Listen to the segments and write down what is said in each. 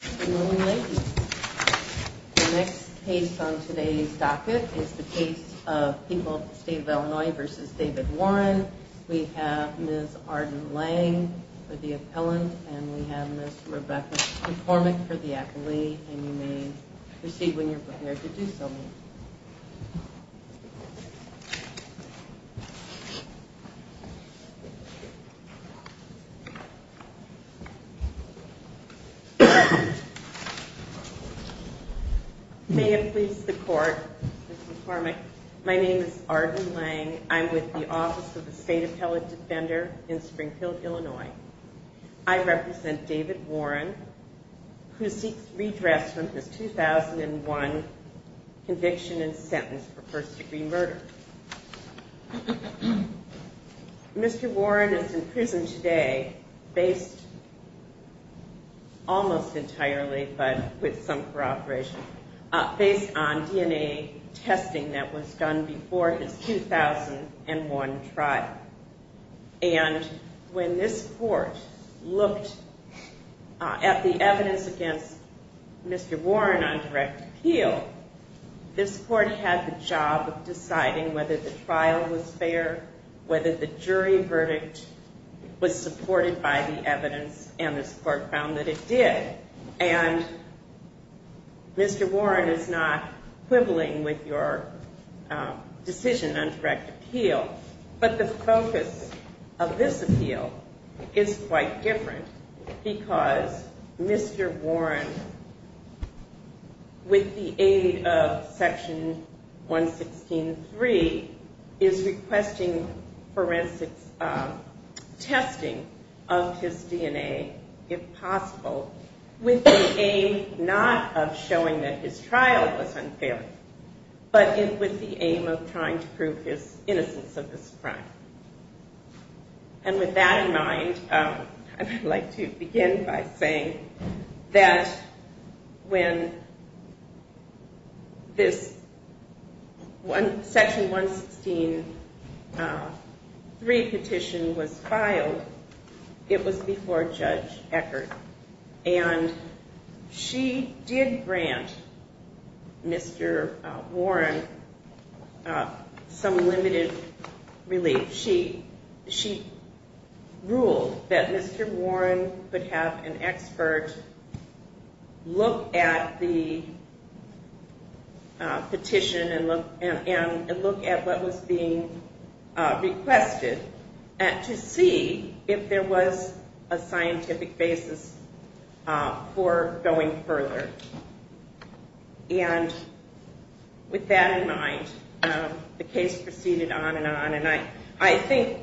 The next case on today's docket is the case of people of the state of Illinois v. David Warren. We have Ms. Arden Lange for the appellant and we have Ms. Rebecca McCormick for the appellee and you may proceed when you're prepared to do so. Ms. Lange May it please the court, Mr. McCormick, my name is Arden Lange. I'm with the Office of the State Appellate Defender in Springfield, Illinois. I represent David Warren who seeks redress from his 2001 conviction and sentence for first degree murder. Mr. Warren is in prison today based almost entirely but with some corroboration, based on DNA testing that was done before his 2001 trial and when this court looked at the evidence against Mr. Warren on direct appeal, this court had the job of deciding whether the trial was fair, whether the jury verdict was supported by the evidence and this court found that it did. And Mr. Warren is not quibbling with your decision on direct appeal. But the focus of this appeal is quite different because Mr. Warren, with the aid of section 116.3, is requesting forensic testing of his DNA if possible with the aim not of showing that his trial was unfair but with the aim of trying to prove his innocence. And with that in mind, I'd like to begin by saying that when this section 116.3 petition was filed, it was before Judge Eckert. And she did grant Mr. Warren some limited relief. She ruled that Mr. Warren could have an expert look at the petition and look at what was being requested. And to see if there was a scientific basis for going further. And with that in mind, the case proceeded on and on. And I think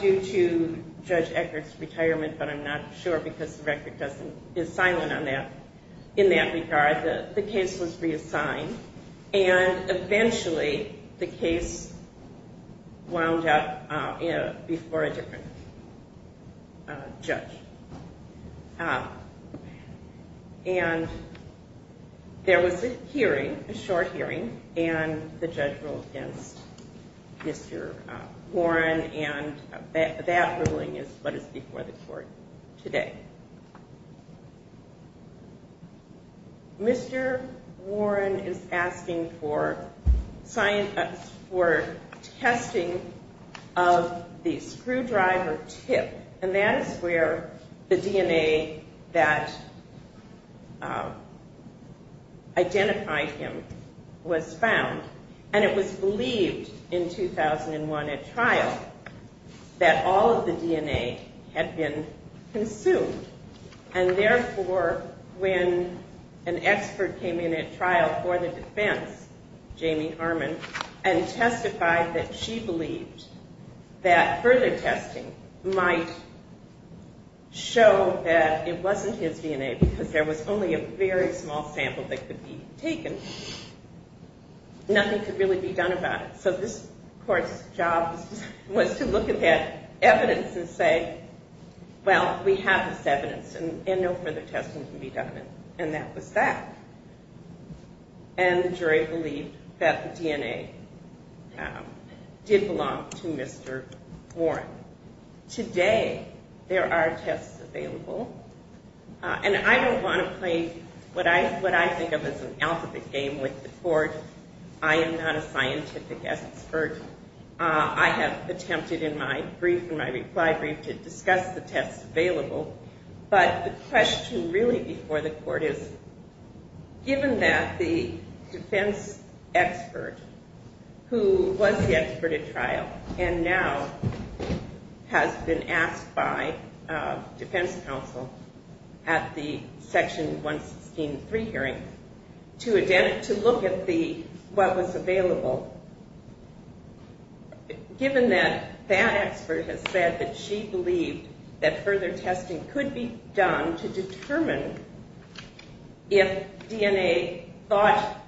due to Judge Eckert's retirement, but I'm not sure because the record is silent on that, in that regard, the case was reassigned. And eventually the case wound up before a different judge. And there was a hearing, a short hearing, and the judge ruled against Mr. Warren and that ruling is what is before the court today. Mr. Warren is asking for testing of the screwdriver tip. And that is where the DNA that identified him was found. And it was believed in 2001 at trial that all of the DNA had been consumed. And therefore, when an expert came in at trial for the defense, Jamie Harmon, and testified that she believed that further testing might show that it wasn't his DNA because there was only a very small sample that could be taken. And nothing could really be done about it. So this court's job was to look at that evidence and say, well, we have this evidence and no further testing can be done. And that was that. And the jury believed that the DNA did belong to Mr. Warren. Today there are tests available. And I don't want to play what I think of as an alphabet game with the court. I am not a scientific expert. I have attempted in my brief, in my reply brief, to discuss the tests available. But the question really before the court is, given that the defense expert who was the expert at trial and now has been asked by defense counsel at the Section 163 hearing to look at what was available, given that that expert has said that she believed that further testing could be done to determine if DNA thought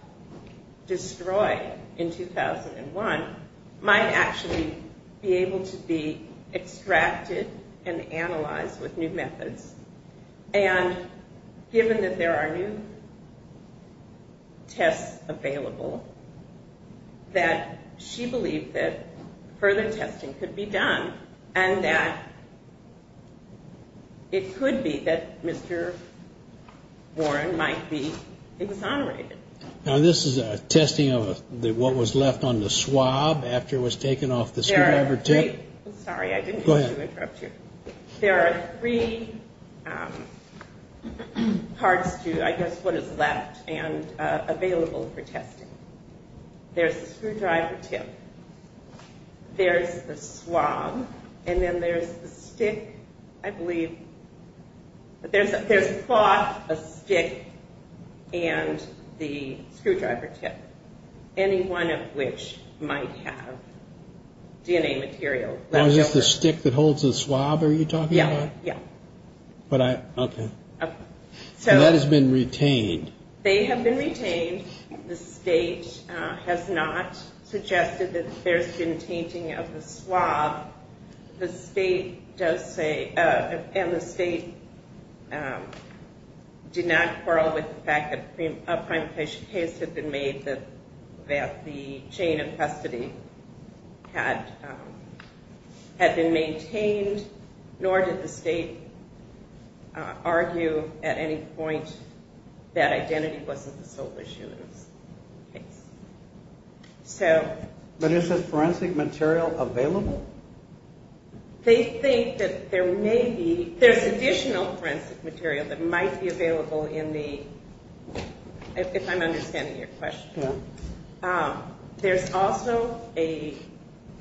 destroyed in 2001 might actually be able to be extracted and analyzed with new methods, and given that there are new tests available, that she believed that further testing could be done and that it could be that Mr. Warren might be exonerated. Now this is a testing of what was left on the swab after it was taken off the screwdriver tip. There are three parts to, I guess, what is left and available for testing. There's the screwdriver tip. There's the swab. And then there's the stick, I believe. But there's a cloth, a stick, and the screwdriver tip, any one of which might have DNA material left over. Oh, just the stick that holds the swab are you talking about? Yeah, yeah. But I, okay. Okay. And that has been retained. They have been retained. The state has not suggested that there's been tainting of the swab. The state does say, and the state did not quarrel with the fact that a primatization case had been made that the chain of custody had been maintained, nor did the state argue at any point that identity wasn't the sole issue in this case. But is the forensic material available? They think that there may be, there's additional forensic material that might be available in the, if I'm understanding your question. Yeah. There's also a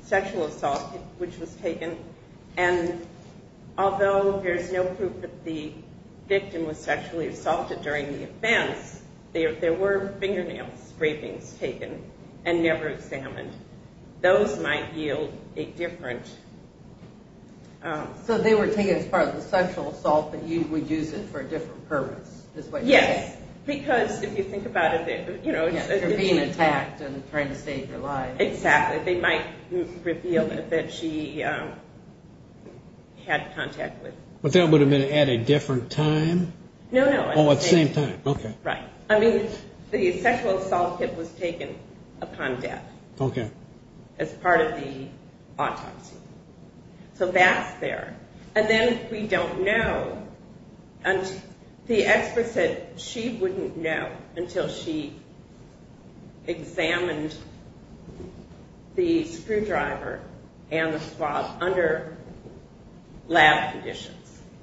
sexual assault which was taken, and although there's no proof that the victim was sexually assaulted during the offense, there were fingernail scrapings taken and never examined. Those might yield a different... So they were taken as part of the sexual assault, but you would use it for a different purpose? Yes. Because if you think about it, you know... For being attacked and trying to save their lives. Exactly. They might reveal that she had contact with... But that would have been at a different time? No, no. Oh, at the same time. Okay. Right. I mean, the sexual assault kit was taken upon death. Okay. As part of the autopsy. So that's there. And then we don't know, the expert said she wouldn't know until she examined the screwdriver and the swab under lab conditions.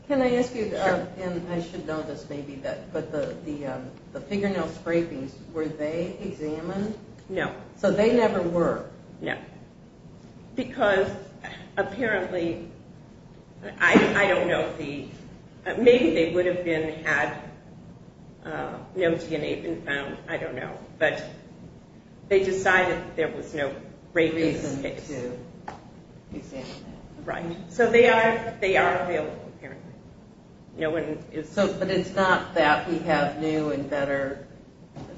Can I ask you, and I should know this maybe, but the fingernail scrapings, were they examined? No. So they never were? No. Because apparently, I don't know the... Maybe they would have been had no DNA been found. I don't know. But they decided there was no reason to examine them. Right. So they are available, apparently. No one is... But it's not that we have new and better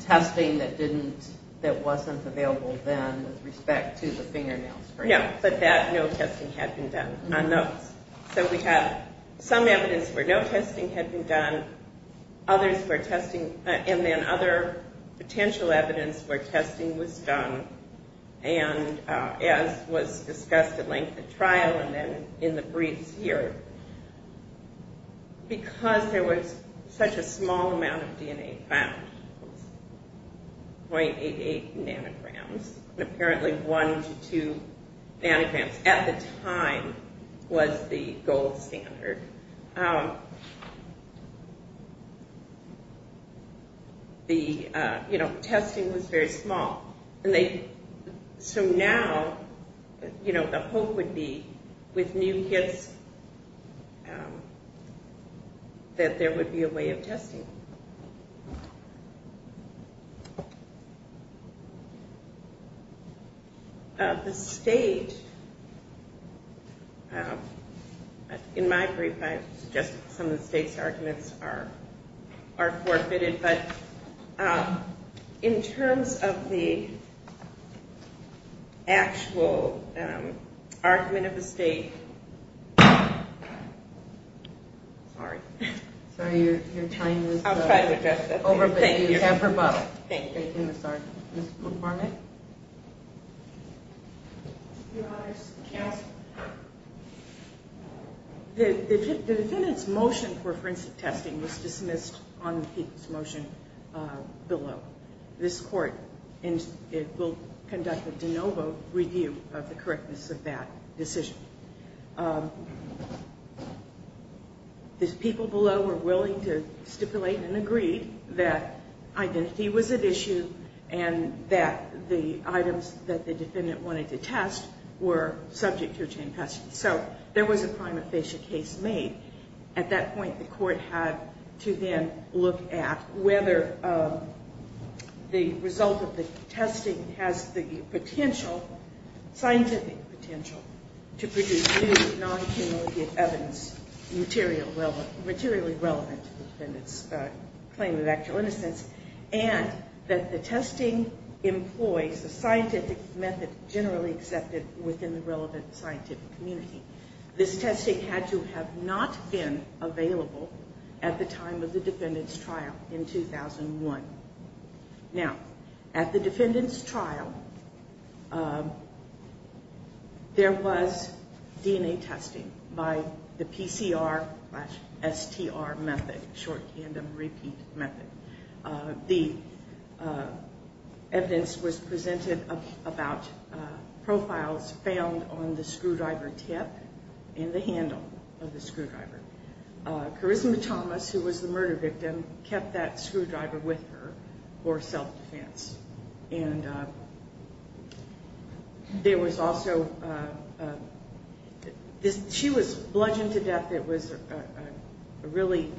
testing that wasn't available then with respect to the fingernail scrapings? No. But that no testing had been done on those. So we have some evidence where no testing had been done, and then other potential evidence where testing was done. And as was discussed at length at trial and then in the briefs here. Because there was such a small amount of DNA found, 0.88 nanograms, apparently one to two nanograms at the time was the gold standard. The, you know, testing was very small. So now, you know, the hope would be with new kits that there would be a way of testing. The state... In my brief, I suggested some of the state's arguments are forfeited. But in terms of the actual argument of the state... Sorry. Sorry, you're trying to... I was trying to address this. Thank you. You have her bottle. Thank you. I'm sorry. Ms. McCormick? Your Honors, counsel. The defendant's motion for forensic testing was dismissed on the people's motion below. This court will conduct a de novo review of the correctness of that decision. The people below were willing to stipulate and agree that identity was at issue and that the items that the defendant wanted to test were subject to a chain test. So there was a prima facie case made. At that point, the court had to then look at whether the result of the testing has the potential, scientific potential, to produce new non-cumulative evidence materially relevant to the defendant's claim of actual innocence and that the testing employs a scientific method generally accepted within the relevant scientific community. This testing had to have not been available at the time of the defendant's trial in 2001. Now, at the defendant's trial, there was DNA testing by the PCR-STR method, short tandem repeat method. The evidence was presented about profiles found on the screwdriver tip and the handle of the screwdriver. Charisma Thomas, who was the murder victim, kept that screwdriver with her for self-defense. She was bludgeoned to death. It was a really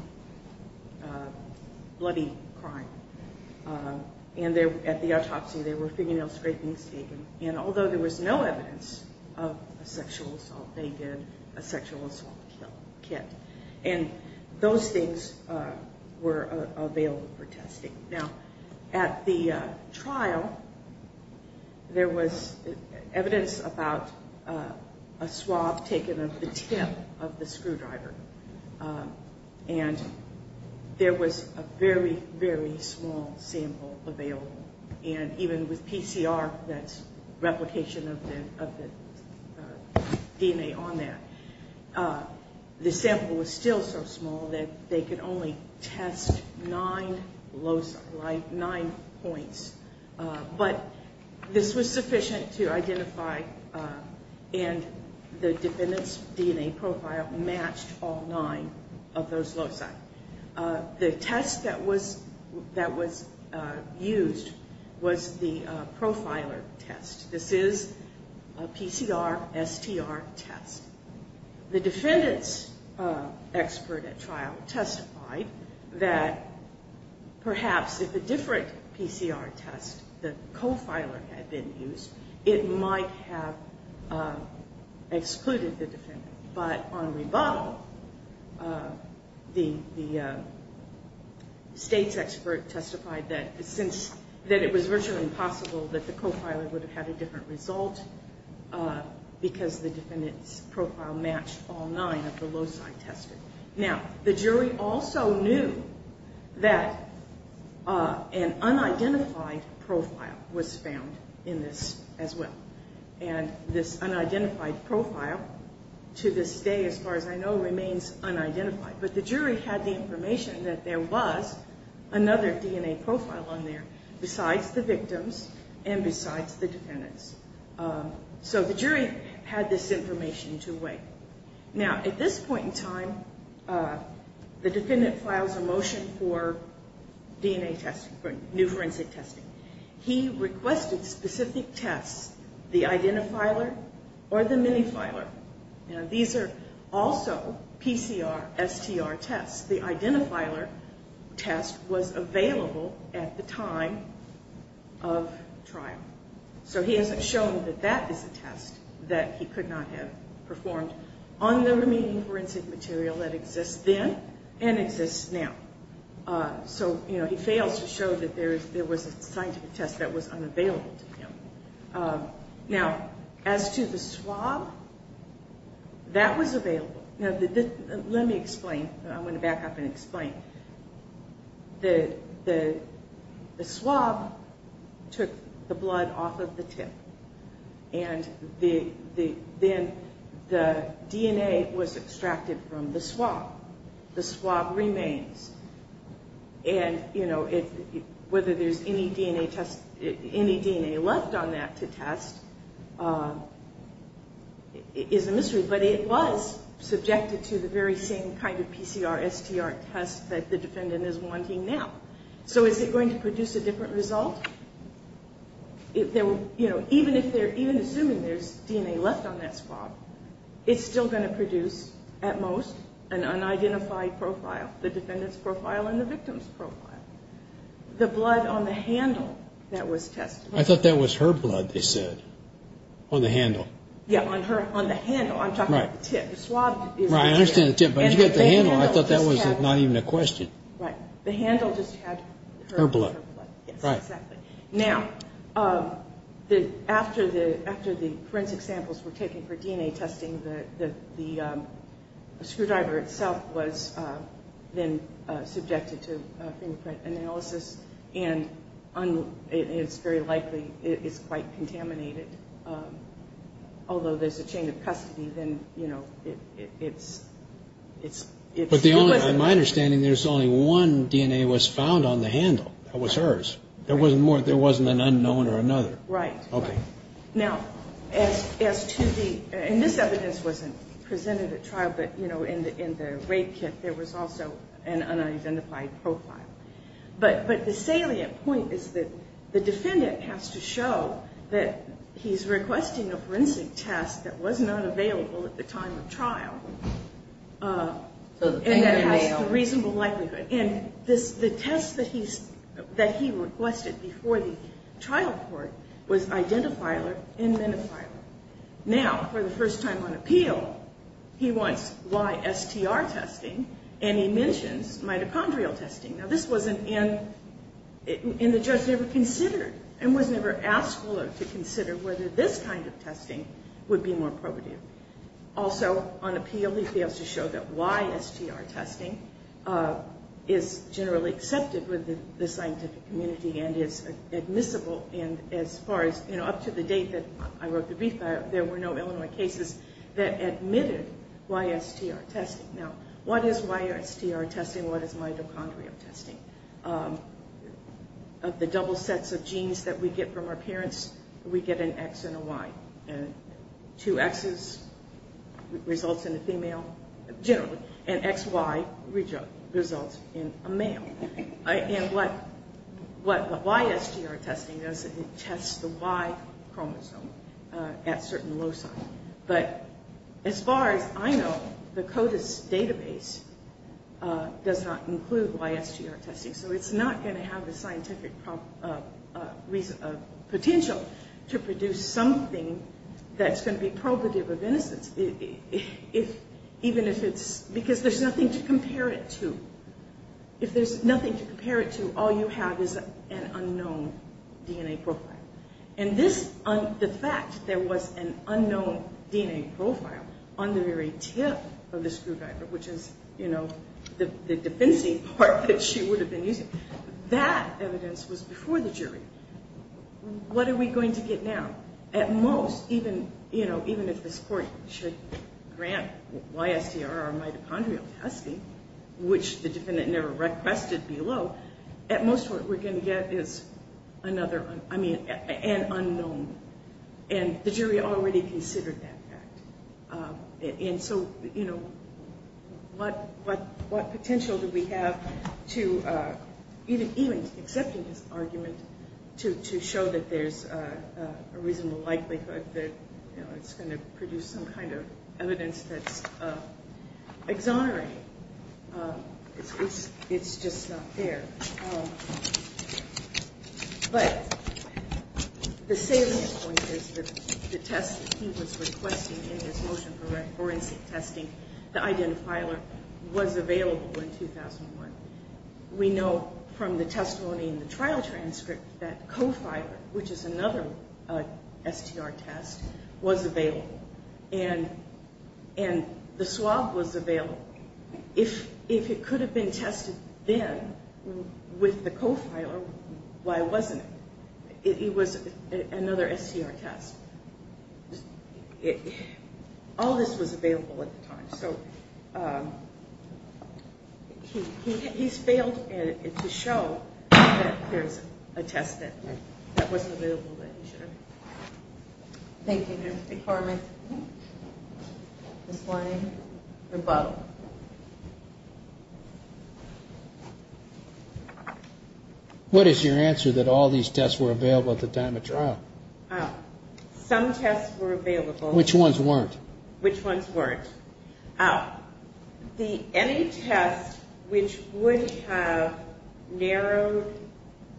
bloody crime. At the autopsy, there were fingernail scrapings taken. Although there was no evidence of a sexual assault, they did a sexual assault kit. Those things were available for testing. Now, at the trial, there was evidence about a swab taken of the tip of the screwdriver. And there was a very, very small sample available. And even with PCR, that's replication of the DNA on there, the sample was still so small that they could only test nine points. But this was sufficient to identify, and the defendant's DNA profile matched all nine of those loci. The test that was used was the profiler test. This is a PCR-STR test. The defendant's expert at trial testified that perhaps if a different PCR test, the profiler, had been used, it might have excluded the defendant. But on rebuttal, the state's expert testified that it was virtually impossible that the profiler would have had a different result because the defendant's profile matched all nine of the loci tested. Now, the jury also knew that an unidentified profile was found in this as well. And this unidentified profile, to this day, as far as I know, remains unidentified. But the jury had the information that there was another DNA profile on there besides the victims and besides the defendants. So the jury had this information to weigh. Now, at this point in time, the defendant files a motion for DNA testing, for new forensic testing. He requested specific tests, the identifiler or the minifiler. Now, these are also PCR-STR tests. The identifiler test was available at the time of trial. So he hasn't shown that that is a test that he could not have performed on the remaining forensic material that exists then and exists now. So, you know, he fails to show that there was a scientific test that was unavailable to him. Now, as to the swab, that was available. Now, let me explain. I'm going to back up and explain. The swab took the blood off of the tip. And then the DNA was extracted from the swab. The swab remains. And, you know, whether there's any DNA test, any DNA left on that to test is a mystery. But it was subjected to the very same kind of PCR-STR test that the defendant is wanting now. So is it going to produce a different result? You know, even assuming there's DNA left on that swab, it's still going to produce, at most, an unidentified profile. The defendant's profile and the victim's profile. The blood on the handle that was tested. I thought that was her blood, they said, on the handle. Yeah, on the handle. I'm talking about the tip. The swab is right there. Right. I understand the tip. But you got the handle. I thought that was not even a question. Right. The handle just had her blood. Her blood. Right. Exactly. Now, after the forensic samples were taken for DNA testing, the screwdriver itself was then subjected to fingerprint analysis. And it's very likely it's quite contaminated. Although, there's a chain of custody, then, you know, it's... But my understanding, there's only one DNA that was found on the handle. That was hers. There wasn't more. There wasn't an unknown or another. Right. Okay. Now, as to the... And this evidence wasn't presented at trial, but, you know, in the rape kit, there was also an unidentified profile. But the salient point is that the defendant has to show that he's requesting a forensic test that was not available at the time of trial. And that has a reasonable likelihood. And the test that he requested before the trial court was identifier and minifier. Now, for the first time on appeal, he wants YSTR testing, and he mentions mitochondrial testing. Now, this wasn't in... And the judge never considered and was never asked to consider whether this kind of testing would be more probative. Also, on appeal, he fails to show that YSTR testing is generally accepted within the scientific community and is admissible. And as far as, you know, up to the date that I wrote the brief, there were no Illinois cases that admitted YSTR testing. Now, what is YSTR testing? What is mitochondrial testing? Of the double sets of genes that we get from our parents, we get an X and a Y. And two Xs results in a female, generally. And XY results in a male. And what the YSTR testing does, it tests the Y chromosome at certain loci. But as far as I know, the CODIS database does not include YSTR testing. So it's not going to have the scientific potential to produce something that's going to be probative of innocence. Even if it's... Because there's nothing to compare it to. If there's nothing to compare it to, all you have is an unknown DNA profile. And this... The fact that there was an unknown DNA profile on the very tip of the screwdriver, which is, you know, the defensive part that she would have been using, that evidence was before the jury. What are we going to get now? At most, even, you know, even if this court should grant YSTR or mitochondrial testing, which the defendant never requested below, at most what we're going to get is another... I mean, an unknown. And the jury already considered that fact. And so, you know, what potential do we have to... Even accepting his argument to show that there's a reasonable likelihood that, you know, it's going to produce some kind of evidence that's exonerating. It's just not fair. But the salient point is that the test that he was requesting in his motion for forensic testing, the identifier, was available in 2001. We know from the testimony in the trial transcript that co-filer, which is another STR test, was available. And the swab was available. If it could have been tested then with the co-filer, why wasn't it? It was another STR test. All this was available at the time. So he's failed to show that there's a test that wasn't available that he should have. Thank you, Justice McCormick. Ms. Lange, rebuttal. What is your answer that all these tests were available at the time of trial? Some tests were available. Which ones weren't? Which ones weren't? Any test which would have narrowed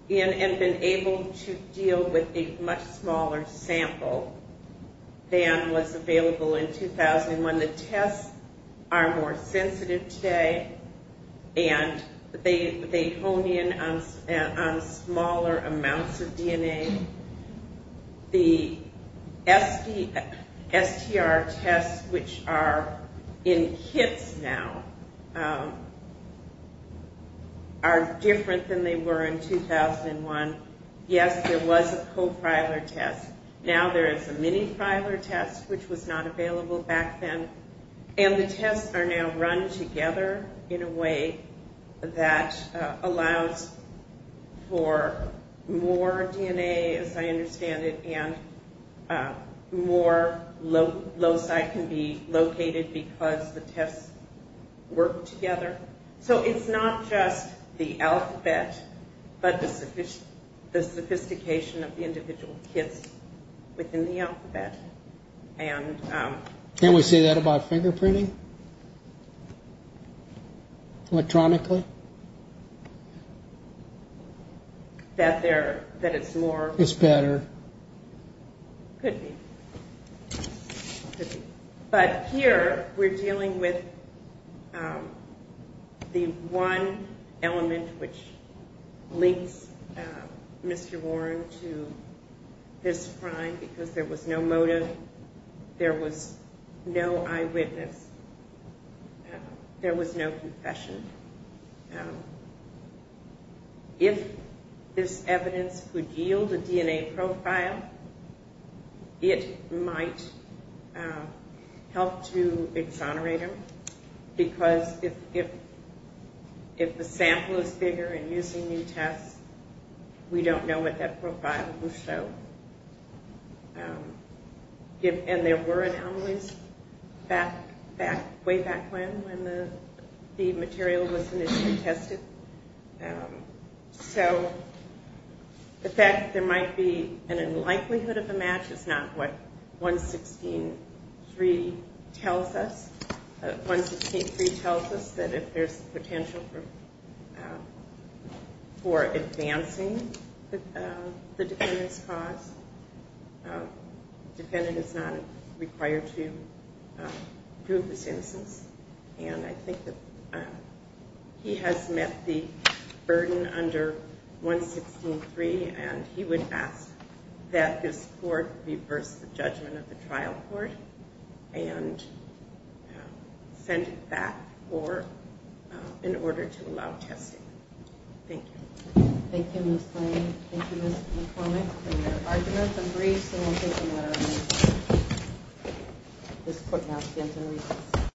in and been able to deal with a much smaller sample than was available in 2001. The tests are more sensitive today, and they hone in on smaller amounts of DNA. The STR tests, which are in kits now, are different than they were in 2001. Yes, there was a co-filer test. Now there is a mini-filer test, which was not available back then. And the tests are now run together in a way that allows for more DNA, as I understand it, and more loci can be located because the tests work together. So it's not just the alphabet, but the sophistication of the individual kits within the alphabet. Can't we say that about fingerprinting? Electronically? That it's more? It's better. Could be. But here we're dealing with the one element which links Mr. Warren to this crime because there was no motive. There was no eyewitness. There was no confession. If this evidence could yield a DNA profile, it might help to exonerate him because if the sample is bigger and using new tests, we don't know what that profile will show. And there were anomalies way back when, when the material was initially tested. So the fact that there might be an unlikelihood of a match is not what 116.3 tells us. 116.3 tells us that if there's potential for advancing the defendant's cause, the defendant is not required to prove his innocence. And I think that he has met the burden under 116.3, and he would ask that this court reverse the judgment of the trial court and send it back in order to allow testing. Thank you. Thank you, Ms. Lane. Thank you, Ms. McCormick, for your arguments and briefs. And we'll take a matter of minutes. This court now stands in recess.